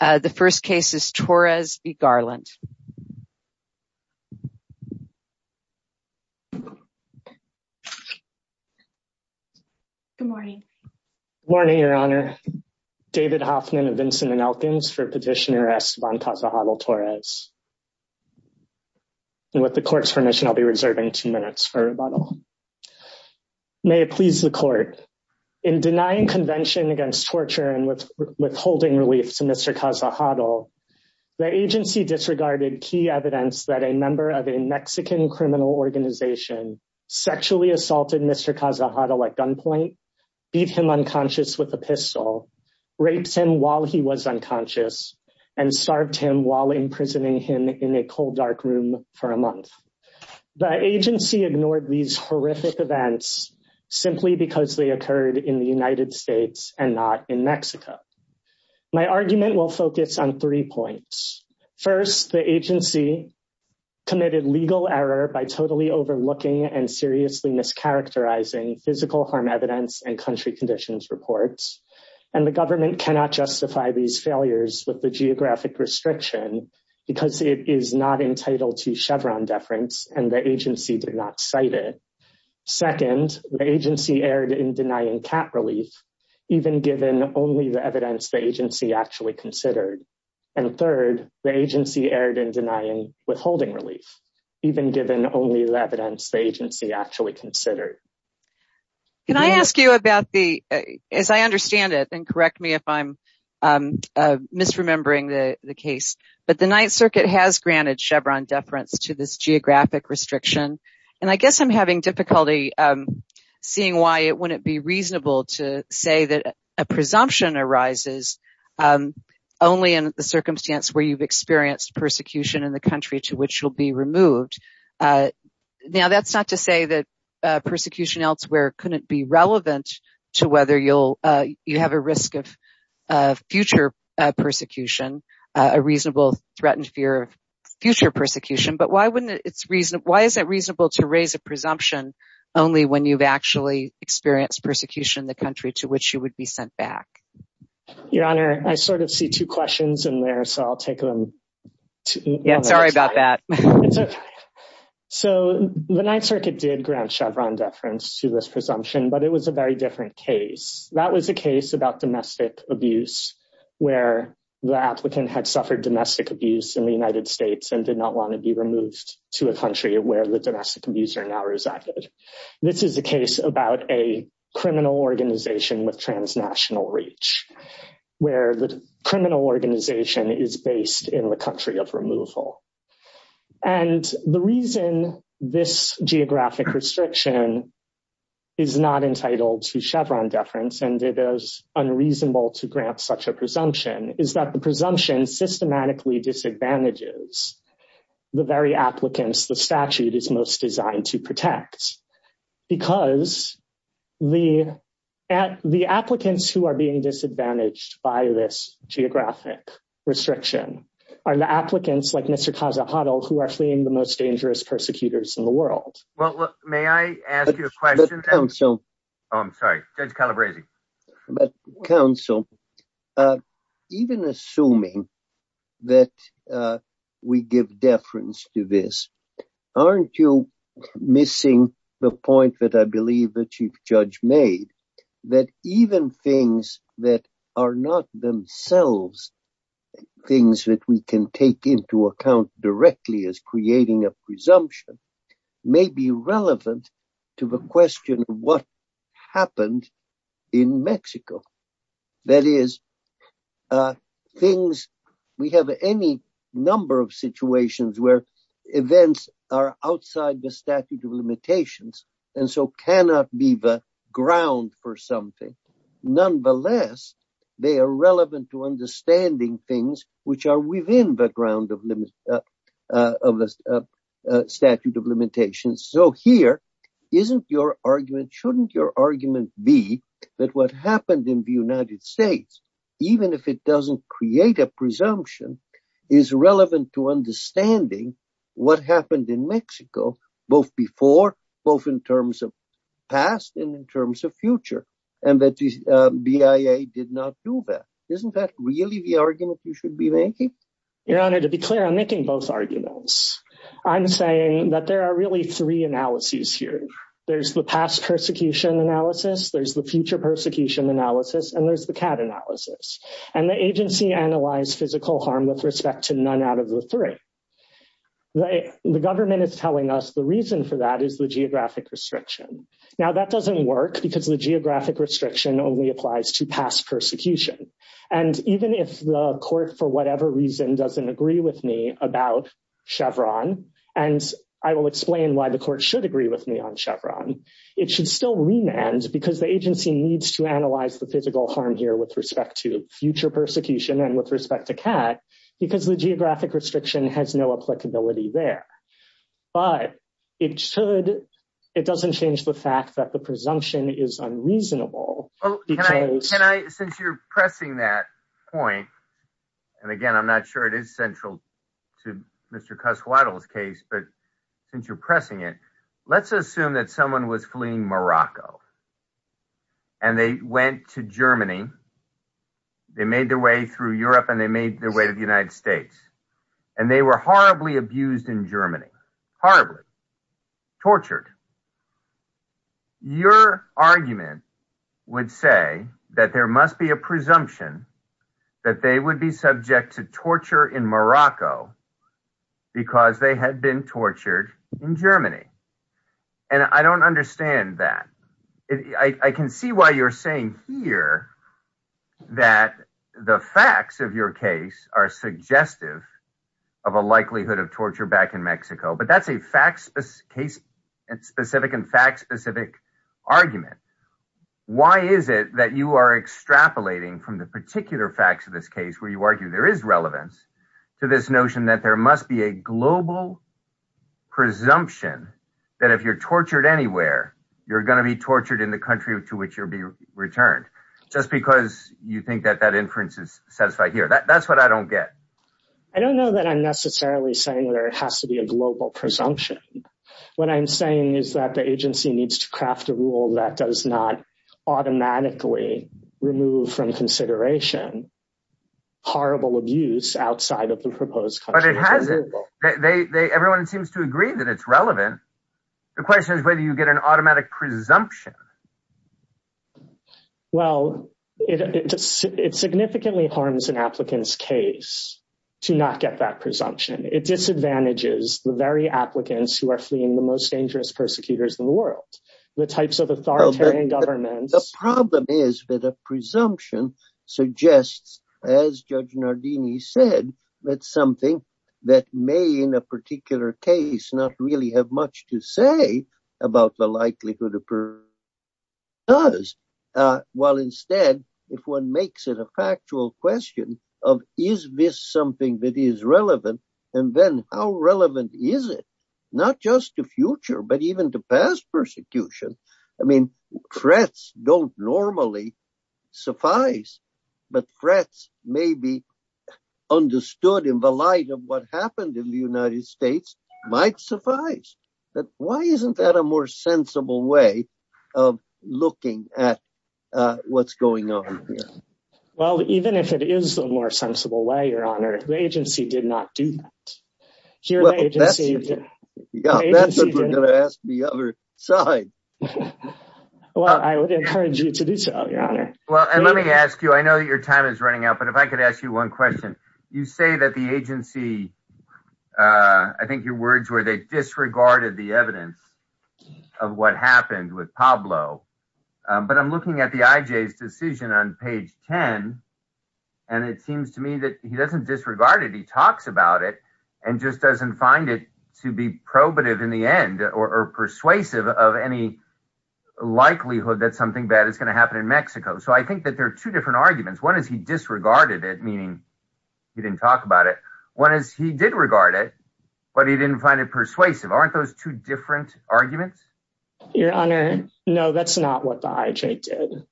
The first case is Torres v. Garland. Good morning. Morning, Your Honor. David Hoffman of Vincent and Elkins for Petitioner S. Van Tassel-Hoddle-Torres. And with the court's permission, I'll be reserving two minutes for rebuttal. May it please the court. In denying convention against torture and withholding relief to Mr. Casa-Hoddle, the agency disregarded key evidence that a member of a Mexican criminal organization sexually assaulted Mr. Casa-Hoddle at gunpoint, beat him unconscious with a pistol, raped him while he was unconscious, and starved him while imprisoning him in a cold, dark room for a month. The agency ignored these horrific events simply because they focused on three points. First, the agency committed legal error by totally overlooking and seriously mischaracterizing physical harm evidence and country conditions reports, and the government cannot justify these failures with the geographic restriction because it is not entitled to Chevron deference and the agency did not cite it. Second, the agency erred in denying cat relief, even given only the evidence the agency actually considered. And third, the agency erred in denying withholding relief, even given only the evidence the agency actually considered. Can I ask you about the, as I understand it, and correct me if I'm misremembering the case, but the Ninth Circuit has granted Chevron deference to this geographic restriction, and I guess I'm having difficulty seeing why it wouldn't be reasonable to say that a presumption arises only in the circumstance where you've experienced persecution in the country to which you'll be removed. Now, that's not to say that persecution elsewhere couldn't be relevant to whether you'll, you have a risk of future persecution, a reasonable threatened fear of future persecution, but why wouldn't it, it's reason, why is it reasonable to raise a presumption only when you've actually experienced persecution in the country to which you would be sent back? Your Honor, I sort of see two questions in there, so I'll take them. Yeah, sorry about that. So the Ninth Circuit did grant Chevron deference to this presumption, but it was a very different case. That was a case about domestic abuse, where the applicant had suffered domestic abuse in the United States and did not want to be removed to a country where the organization was transnational reach, where the criminal organization is based in the country of removal. And the reason this geographic restriction is not entitled to Chevron deference and it is unreasonable to grant such a presumption is that the presumption systematically disadvantages the very applicants the statute is most designed to protect. Because the applicants who are being disadvantaged by this geographic restriction are the applicants like Mr. Kazahadl who are fleeing the most dangerous persecutors in the world. Well, may I ask you a question? I'm sorry, Judge Calabresi. But counsel, even assuming that we give deference to this, aren't you missing the point that I believe the Chief Judge made that even things that are not themselves things that we can take into account directly as creating a presumption may be relevant to the question of what happened in Mexico? That is, we have any number of situations where events are outside the statute of limitations and so cannot be the ground for something. Nonetheless, they are relevant to understanding things which are within the ground of the statute of limitations. So here, shouldn't your argument be that what happened in the United States, even if it doesn't create a presumption, is relevant to understanding what happened in Mexico, both before, both in terms of past and in terms of future, and that the BIA did not do that. Isn't that really the argument you should be making? Your Honor, to be clear, I'm making both arguments. I'm saying that there are really three analyses here. There's the past persecution analysis, there's the future persecution analysis, and there's the CAD analysis. And the agency analyzed physical harm with respect to none out of the three. The government is telling us the reason for that is the geographic restriction. Now, that doesn't work because the geographic restriction only applies to past persecution. And even if the court, for whatever reason, doesn't agree with me about Chevron, and I will explain why the court should agree with me on Chevron, it should still remand because the agency needs to analyze the physical harm here with respect to future persecution and with respect to CAD because the geographic restriction has no applicability there. But it doesn't change the fact that the presumption is unreasonable. Can I, since you're pressing that point, and again, I'm not sure it is central to Mr. Casuado's case, but since you're pressing it, let's assume that someone was fleeing Morocco and they went to Germany. They made their way through Europe and they made their way to the United States. And they were horribly abused in Germany, horribly tortured. Your argument would say that there must be a presumption that they would be subject to torture in Morocco because they had been tortured in Germany. And I don't understand that. I can see why you're saying here that the facts of your case are suggestive of a likelihood of torture back in Mexico, but that's a fact specific argument. Why is it that you are extrapolating from the particular facts of this case where you argue there is relevance to this notion that there must be a global presumption that if you're tortured anywhere, you're going to be tortured in the country to which you'll be returned just because you think that that inference is satisfied here. That's what I don't get. I don't know that I'm necessarily saying whether it has to be a global presumption. What I'm saying is that the agency needs to craft a rule that does not automatically remove from consideration horrible abuse outside of the proposed country. Everyone seems to agree that it's relevant. The question is whether you get an automatic presumption. Well, it significantly harms an applicant's case to not get that the very applicants who are fleeing the most dangerous persecutors in the world, the types of authoritarian governments. The problem is that a presumption suggests, as Judge Nardini said, that something that may, in a particular case, not really have much to say about the likelihood of persecution does. While instead, if one makes it a factual question of, is this something that is relevant? And then how relevant is it not just the future, but even to past persecution? I mean, threats don't normally suffice, but threats may be understood in the light of what happened in the United States might suffice. But why isn't that more sensible way of looking at what's going on here? Well, even if it is the more sensible way, Your Honor, the agency did not do that. That's what we're going to ask the other side. Well, I would encourage you to do so, Your Honor. Well, and let me ask you, I know that your time is running out, but if I could ask you one question, you say that the agency, I think your words were they disregarded the evidence of what happened with Pablo. But I'm looking at the IJ's decision on page 10, and it seems to me that he doesn't disregard it. He talks about it and just doesn't find it to be probative in the end or persuasive of any likelihood that something bad is going to happen in Mexico. So I think that there are two different meaning he didn't talk about it. One is he did regard it, but he didn't find it persuasive. Aren't those two different arguments? Your Honor, no, that's not what the IJ did.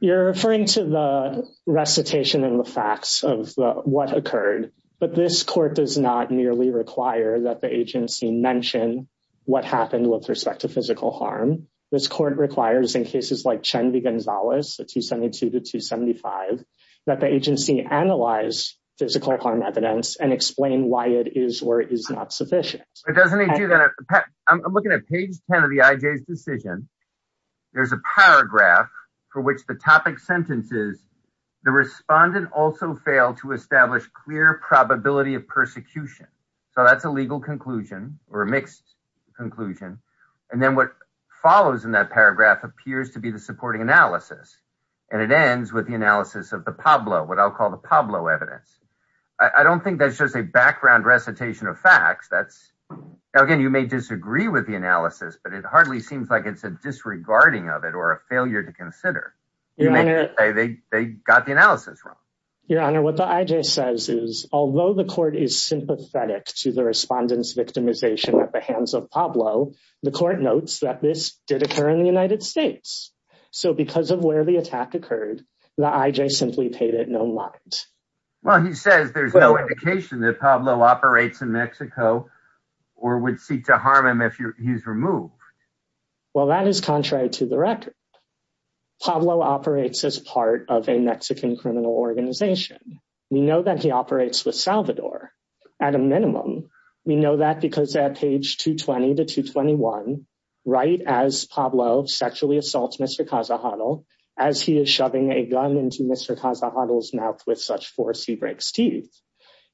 You're referring to the recitation and the facts of what occurred, but this court does not merely require that the agency mention what happened with respect to physical harm. This court requires in cases like Chen v. Gonzalez, 272 to 275, that the agency analyze physical harm evidence and explain why it is or is not sufficient. But doesn't he do that? I'm looking at page 10 of the IJ's decision. There's a paragraph for which the topic sentence is, the respondent also failed to establish clear probability of persecution. So that's a legal conclusion or a mixed conclusion. And then what follows in that paragraph appears to be the supporting analysis. And it ends with the analysis of the Pablo, what I'll call the Pablo evidence. I don't think that's just a background recitation of facts. That's again, you may disagree with the analysis, but it hardly seems like it's a disregarding of it or a failure to consider. They got the analysis wrong. Your Honor, what the IJ says is, although the court is sympathetic to the respondent's Pablo, the court notes that this did occur in the United States. So because of where the attack occurred, the IJ simply paid it no mind. Well, he says there's no indication that Pablo operates in Mexico or would seek to harm him if he's removed. Well, that is contrary to the record. Pablo operates as part of a Mexican criminal organization. We know that he operates with Salvador at a minimum. We know that because at page 220 to 221, right as Pablo sexually assaults Mr. Casajado, as he is shoving a gun into Mr. Casajado's mouth with such force, he breaks teeth.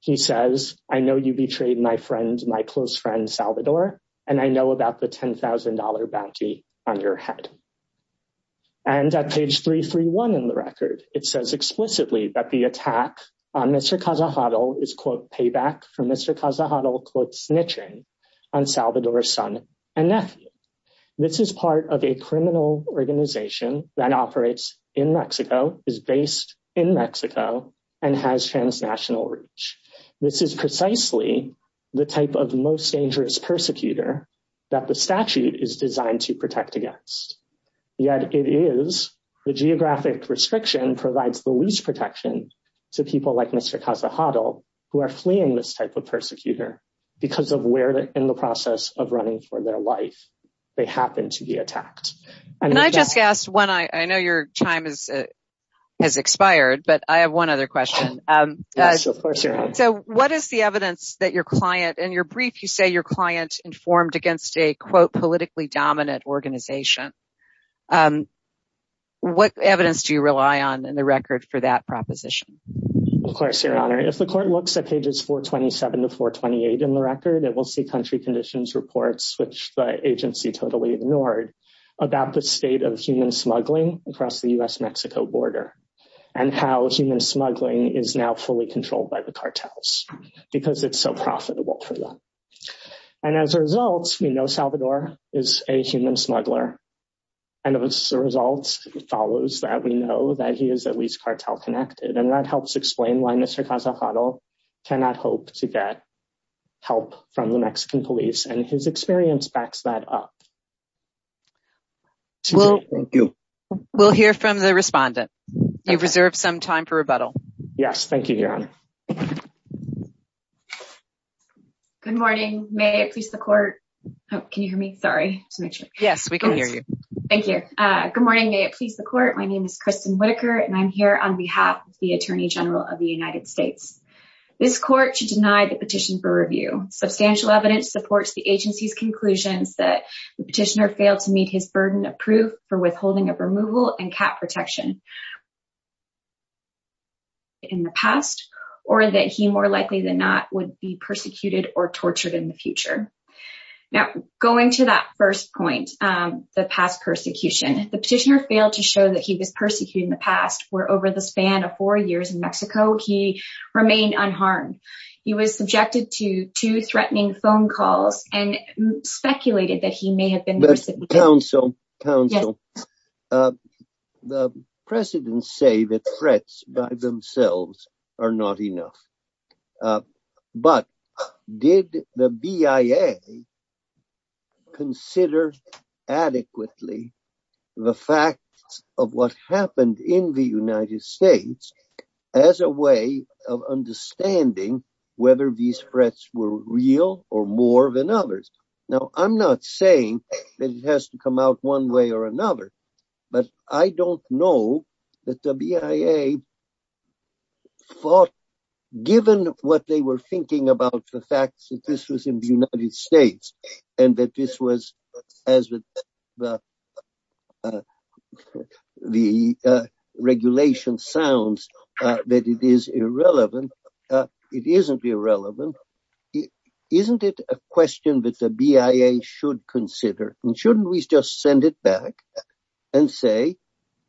He says, I know you betrayed my friend, my close friend, Salvador, and I know about the $10,000 bounty on your head. And at page 331 in the record, it says explicitly that the attack on Mr. Casajado is, quote, payback for Mr. Casajado, quote, snitching on Salvador's son and nephew. This is part of a criminal organization that operates in Mexico, is based in Mexico, and has transnational reach. This is precisely the type of most dangerous persecutor that the statute is designed to protect against. Yet it is the geographic restriction provides the least protection to people like Mr. Casajado who are fleeing this type of persecutor because of where in the process of running for their life they happen to be attacked. And I just asked one, I know your time has expired, but I have one other question. So what is the evidence that your client, in your brief, you say your client informed against a, quote, politically dominant organization? What evidence do you rely on in the record for that proposition? Of course, Your Honor. If the court looks at pages 427 to 428 in the record, it will see country conditions reports, which the agency totally ignored, about the state of human smuggling across the U.S.-Mexico border and how human smuggling is now fully controlled by the cartels because it's so profitable for them. And as a result, we know Salvador is a human smuggler. And as a result, it follows that we know that he is at least cartel connected. And that helps explain why Mr. Casajado cannot hope to get help from the Mexican police. And his experience backs that up. Thank you. We'll hear from the respondent. You've reserved some time for rebuttal. Yes. Thank you, Your Honor. Good morning. May it please the court. Can you hear me? Sorry. Yes, we can hear you. Thank you. Good morning. May it please the court. My name is Kristen Whitaker, and I'm here on behalf of the Attorney General of the United States. This court should deny the petition for review. Substantial evidence supports the agency's conclusions that the petitioner failed to meet his burden of proof for withholding of removal and cat protection in the past, or that he more likely than not would be persecuted or tortured in the future. Now, going to that first point, the past persecution, the petitioner failed to show that he was persecuting the past, where over the span of four years in Mexico, he remained unharmed. He was subjected to two threatening phone calls and speculated that he may have been persecuted. Counsel, the precedents say that threats by themselves are not enough, but did the BIA consider adequately the facts of what happened in the United States as a way of understanding whether these threats were real or more than others? Now, I'm not saying it has to come out one way or another, but I don't know that the BIA thought, given what they were thinking about the fact that this was in the United States and that this was as the regulation sounds, that it is irrelevant. It isn't irrelevant. Isn't it a question that the BIA should consider? And shouldn't we just send it back and say,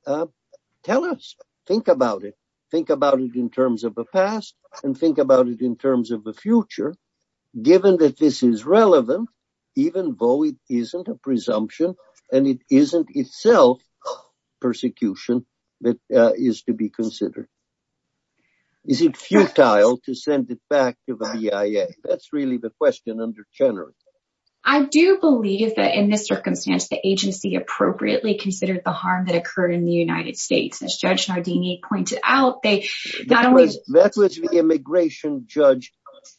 tell us, think about it, think about it in terms of the past and think about it in terms of the future, given that this is relevant, even though it isn't a presumption and it isn't itself persecution that is to be considered. Is it futile to send it back to the BIA? That's really the question under Chenery. I do believe that in this circumstance, the agency appropriately considered the harm that occurred in the United States, as Judge Nardini pointed out. That was the immigration judge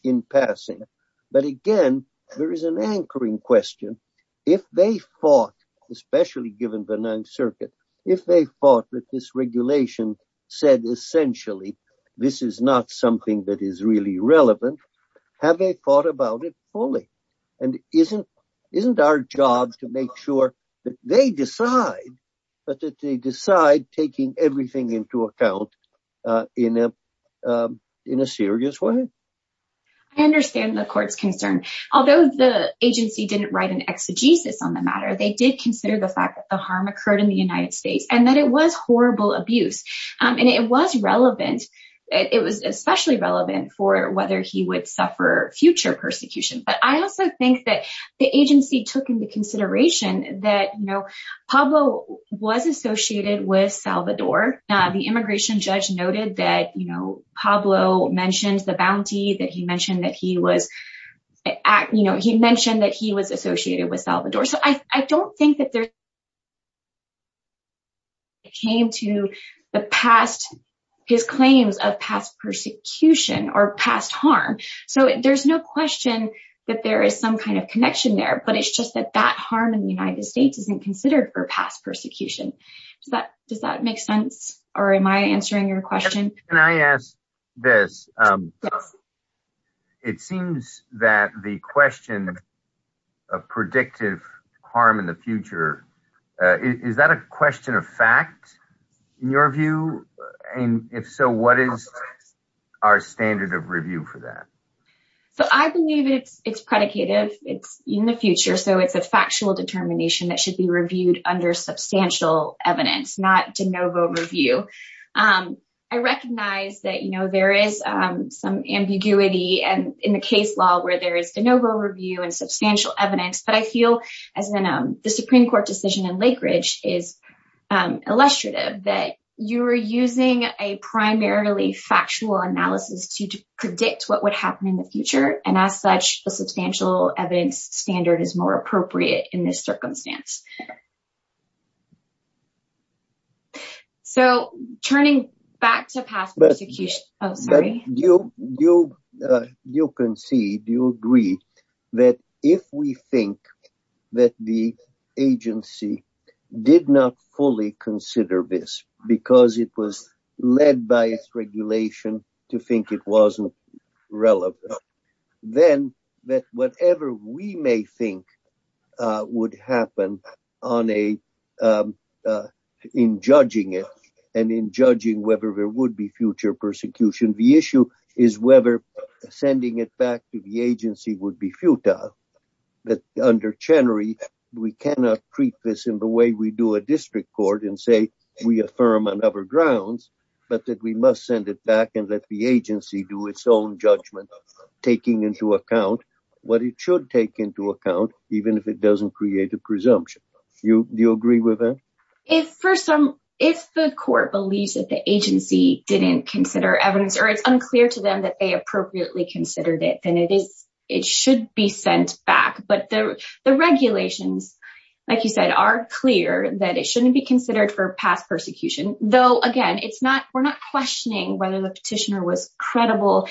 in passing. But again, there is an anchoring question. If they fought, especially given the Ninth Circuit, if they fought with this regulation, said essentially, this is not something that is really relevant, have they thought about it fully? And isn't our job to make sure that they decide, but that they decide taking everything into account in a serious way? I understand the court's concern. Although the agency didn't write an exegesis on the matter, they did consider the fact that the harm occurred in the United States and that it was horrible abuse. And it was relevant. It was especially relevant for whether he would suffer future persecution. But I also think that the agency took into consideration that Pablo was associated with Salvador. The immigration judge noted that Pablo mentioned the bounty, that he mentioned that he was associated with Salvador. I don't think that there came to the past, his claims of past persecution or past harm. So there's no question that there is some kind of connection there, but it's just that that harm in the United States isn't considered for past persecution. Does that make sense? Or am I answering your question? Can I ask this? Yes. It seems that the question of predictive harm in the future, is that a question of fact, in your view? And if so, what is our standard of review for that? So I believe it's predicative. It's in the future. So it's a factual determination that should be reviewed under substantial evidence, not de novo review. I recognize that there is some ambiguity in the case law where there is de novo review and substantial evidence. But I feel as the Supreme Court decision in Lakeridge is illustrative that you are using a primarily factual analysis to predict what would happen in the future. And as such, a substantial evidence standard is more appropriate in this circumstance. So turning back to past persecution, oh, sorry. You concede, you agree that if we think that the agency did not fully consider this, because it was led by its regulation to think it wasn't relevant, then that whatever we may think would happen in judging it, and in judging whether there would be future persecution, the issue is whether sending it back to the agency would be futile. But under Chenery, we cannot treat this in the way we do a district court and say we affirm on other grounds, but that we must send it back and let the agency do its own judgment, taking into account what it should take into account, even if it doesn't create a presumption. Do you agree with that? If the court believes that the agency didn't consider evidence or it's unclear to them that they appropriately considered it, then it should be sent back. But the regulations, like you said, are clear that it shouldn't be considered for past persecution, though, again, we're not questioning whether the petitioner was credible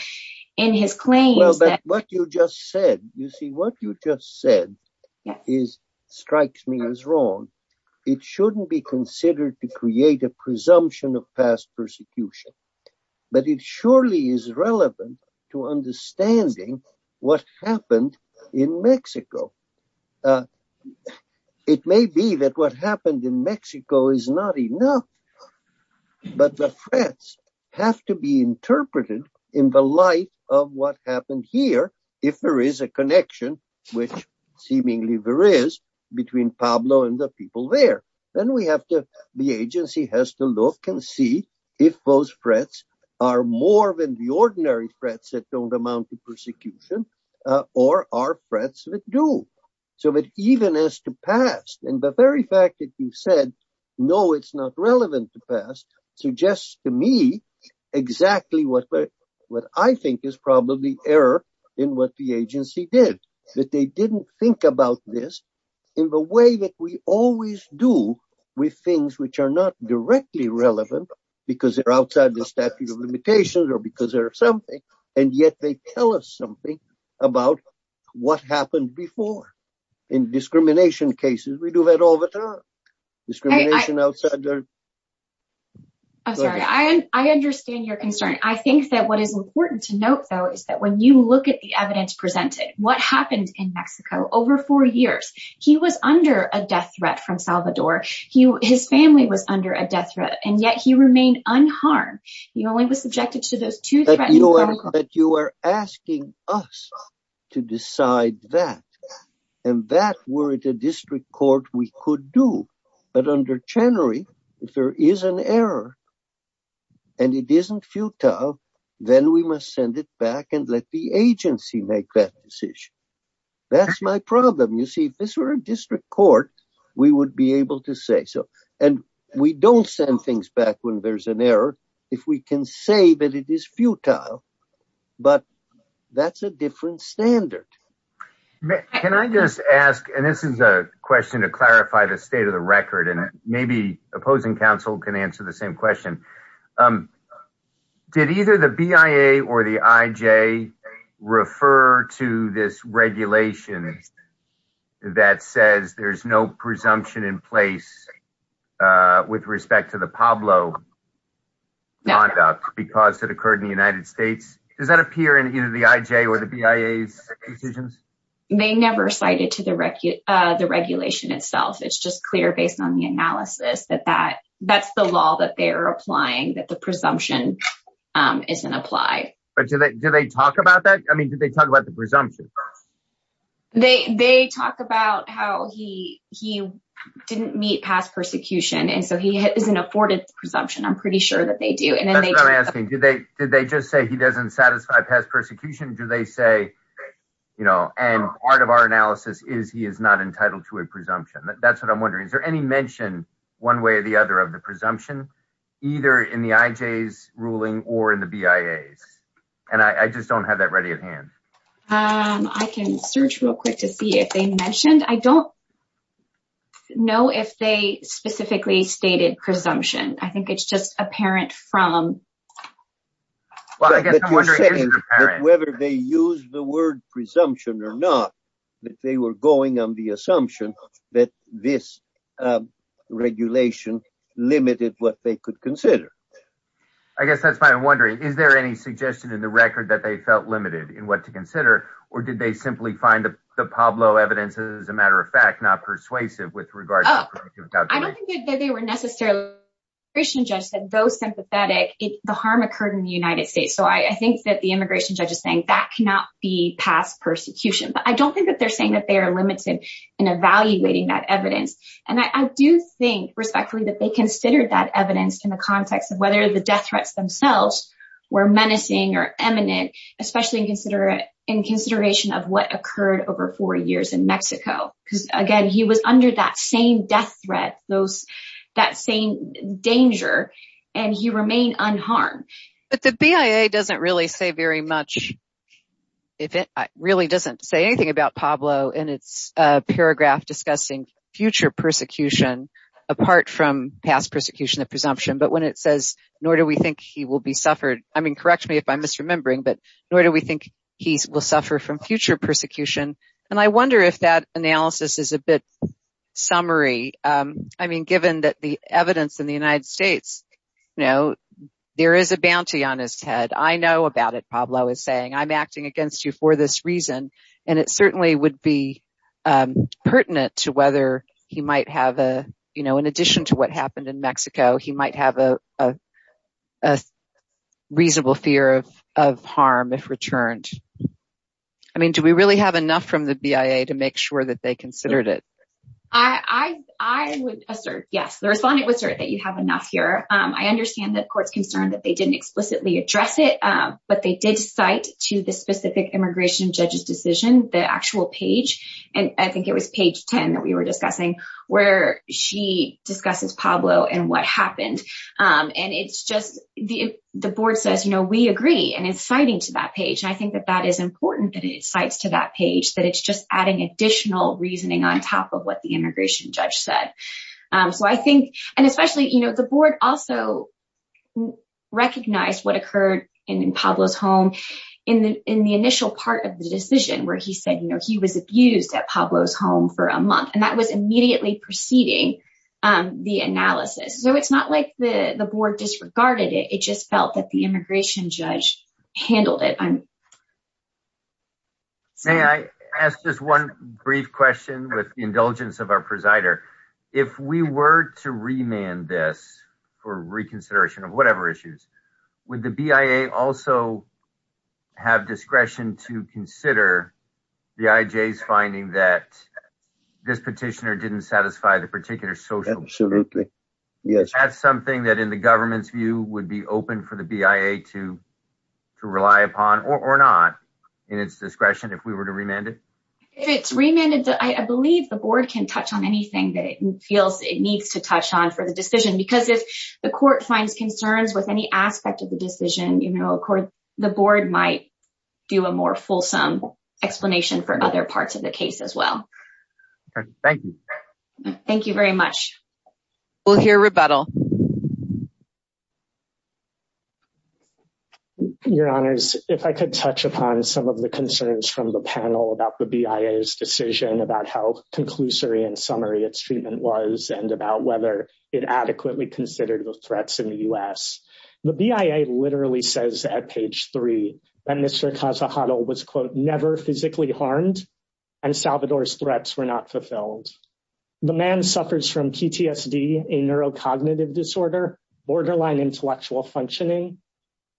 in his claims. What you just said strikes me as wrong. It shouldn't be considered to create a presumption of past persecution, but it surely is relevant to understanding what happened in Mexico. It may be that what happened in Mexico is not enough, but the threats have to be interpreted in the light of what happened here. If there is a connection, which seemingly there is, between Pablo and the people there, then the agency has to look and see if those threats are more than the ordinary threats that don't amount to persecution, or are threats that do. So that even as to past, and the very fact that you said, no, it's not relevant to past, suggests to me exactly what I think is probably error in what the agency did, that they didn't think about this in the way that we always do with things which are not directly relevant because they're outside the statute of limitations, or because they're something, and yet they tell us something about what happened before. In discrimination cases, we do that all the time. I'm sorry, I understand your concern. I think that what is important to note, though, is that when you look at the evidence presented, what happened in Mexico over four years, he was under a death threat from Salvador. His family was under a death threat, and yet he remained unharmed. He only was subjected to those two threats. You are asking us to decide that, and that were it a district court, we could do. But under Chenery, if there is an error, and it isn't futile, then we must send it back and let the agency make that decision. That's my problem. You see, if this were a district court, we would be able to say so, and we don't send things back when there's an error if we can say that it is futile, but that's a different standard. Can I just ask, and this is a question to clarify the state of the record, and maybe opposing counsel can answer the same question. Did either the BIA or the IJ refer to this regulation that says there's no presumption in place with respect to the Pablo conduct because it occurred in the United States? Does that appear in either the IJ or the BIA's decisions? They never cited to the regulation itself. It's just clear based on the analysis that that's the law that they're applying, that the presumption isn't applied. But do they talk about that? I mean, do they talk about the presumption? They talk about how he didn't meet past persecution, and so he isn't afforded the presumption. I'm pretty sure that they do. That's what I'm asking. Did they just say he doesn't satisfy past persecution? Do they say, and part of our analysis is he is not entitled to a presumption. That's what I'm wondering. Is there any mention one way or the other of presumption either in the IJ's ruling or in the BIA's? And I just don't have that ready at hand. I can search real quick to see if they mentioned. I don't know if they specifically stated presumption. I think it's just apparent from. Whether they use the word presumption or not, that they were going on the assumption that this regulation limited what they could consider. I guess that's why I'm wondering, is there any suggestion in the record that they felt limited in what to consider, or did they simply find the Pablo evidence, as a matter of fact, not persuasive with regard to. I don't think that they were necessarily Christian judge said though sympathetic. The harm occurred in the United States, so I think that the immigration judge is saying that cannot be past persecution, but I don't think that they're limited in evaluating that evidence. And I do think respectfully that they considered that evidence in the context of whether the death threats themselves were menacing or eminent, especially in consideration of what occurred over four years in Mexico. Because again, he was under that same death threat, that same danger, and he remained unharmed. But the BIA doesn't really say much, it really doesn't say anything about Pablo in its paragraph discussing future persecution apart from past persecution of presumption. But when it says, nor do we think he will be suffered. I mean, correct me if I'm misremembering, but nor do we think he will suffer from future persecution. And I wonder if that analysis is a bit summary. I mean, given that the evidence in United States, there is a bounty on his head. I know about it, Pablo is saying, I'm acting against you for this reason. And it certainly would be pertinent to whether he might have, in addition to what happened in Mexico, he might have a reasonable fear of harm if returned. I mean, do we really have enough from the BIA to make sure that they considered it? I would assert, yes, the respondent would assert that you have enough here. I understand that court's concerned that they didn't explicitly address it. But they did cite to the specific immigration judge's decision, the actual page, and I think it was page 10 that we were discussing, where she discusses Pablo and what happened. And it's just the board says, you know, we agree, and it's citing to that page. I think that that is important that it cites to that page, that it's adding additional reasoning on top of what the immigration judge said. So I think, and especially, you know, the board also recognized what occurred in Pablo's home in the initial part of the decision where he said, you know, he was abused at Pablo's home for a month, and that was immediately preceding the analysis. So it's not like the board disregarded it, it just felt that the immigration judge handled it. May I ask just one brief question with the indulgence of our presider? If we were to remand this for reconsideration of whatever issues, would the BIA also have discretion to consider the IJ's finding that this petitioner didn't satisfy the particular social? Absolutely, yes. That's something that in the government's view would be open for the BIA to rely upon, or not, in its discretion if we were to remand it? If it's remanded, I believe the board can touch on anything that it feels it needs to touch on for the decision, because if the court finds concerns with any aspect of the decision, you know, the board might do a more fulsome explanation for other parts of the case as well. Thank you. Thank you very much. We'll hear rebuttal. Your honors, if I could touch upon some of the concerns from the panel about the BIA's decision, about how conclusory and summary its treatment was, and about whether it adequately considered the threats in the U.S. The BIA literally says at page three that Mr. Casajado was, quote, never physically harmed, and Salvador's threats were not fulfilled. The man suffers from PTSD, a neurocognitive disorder, borderline intellectual functioning,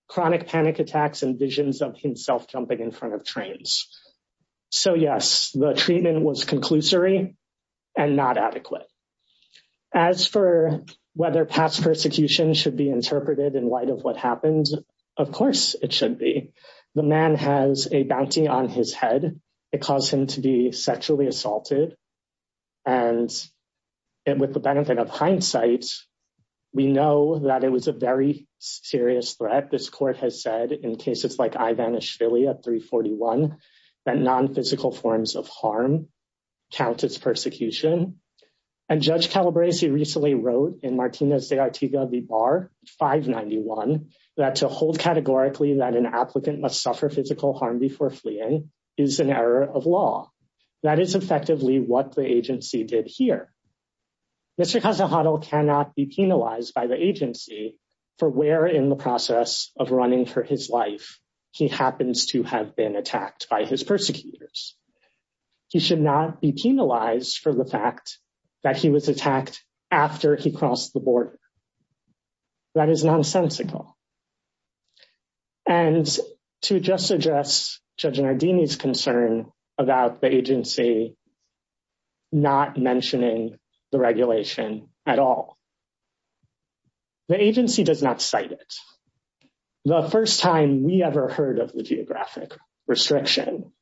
chronic panic attacks, and visions of himself jumping in front of trains. So, yes, the treatment was conclusory and not adequate. As for whether past persecution should be interpreted in light of what happened, of course it should be. The man has a bounty on his head. It caused him to be sexually assaulted, and with the benefit of hindsight, we know that it was a very serious threat. This court has said in cases like Ivanishvillia 341 that non-physical forms of harm count as persecution. And Judge Calabresi recently wrote in Martinez de Artiga v. Barr 591 that to hold categorically that an applicant must suffer physical harm before fleeing is an error of law. That is effectively what the agency did here. Mr. Casajado cannot be penalized by the agency for where in the process of running for his life he happens to have been attacked by his persecutors. He should not be attacked after he crossed the border. That is nonsensical. And to just address Judge Nardini's concern about the agency not mentioning the regulation at all, the agency does not cite it. The first time we ever heard of the geographic restriction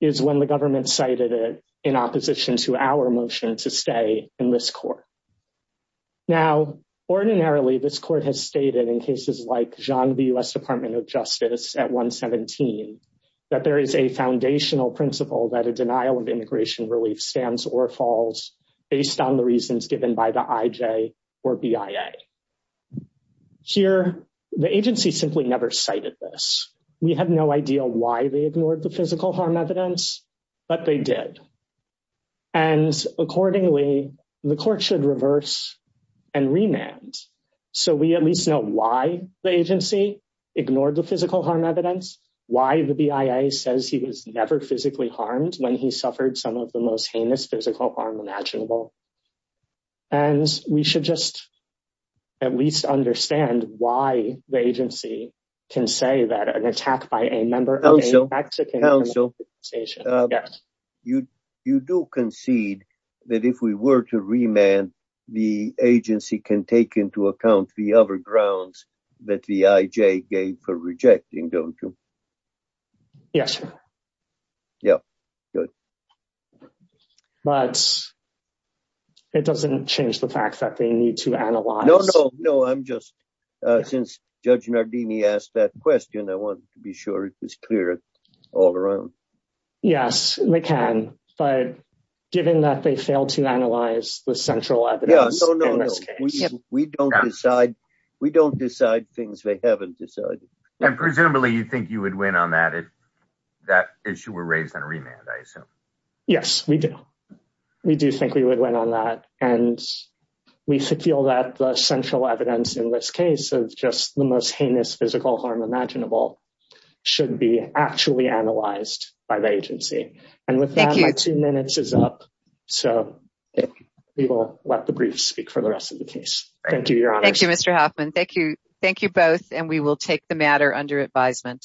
is when the government cited it in opposition to our motion to stay in this court. Now, ordinarily, this court has stated in cases like Jean v. U.S. Department of Justice at 117 that there is a foundational principle that a denial of immigration relief stands or falls based on the reasons given by the IJ or BIA. Here, the agency simply never cited this. We have no idea why they ignored the physical harm evidence, but they did. And accordingly, the court should reverse and remand so we at least know why the agency ignored the physical harm evidence, why the BIA says he was never physically harmed when he suffered some of the most heinous physical harm imaginable. And we should just at least understand why the agency can say that an attack by a member of a Mexican organization. You do concede that if we were to remand, the agency can take into account the other grounds that the IJ gave for rejecting, don't you? Yes. Yeah, good. But it doesn't change the fact that they need to analyze. No, I'm just, since Judge Nardini asked that question, I want to be sure it is clear all around. Yes, they can. But given that they failed to analyze the central evidence, we don't decide, we don't decide things they haven't decided. And presumably you think you would win on that if that issue were raised on a remand, I assume? Yes, we do. We do think we would win on that. And we feel that the central evidence in this case of just the most heinous physical harm imaginable should be actually analyzed by the agency. And with that, my two minutes is up. So we will let the brief speak for the rest of the case. Thank you, Your Honor. Thank you, Mr. Hoffman. Thank you. Thank you both. And we will take the matter under advisement.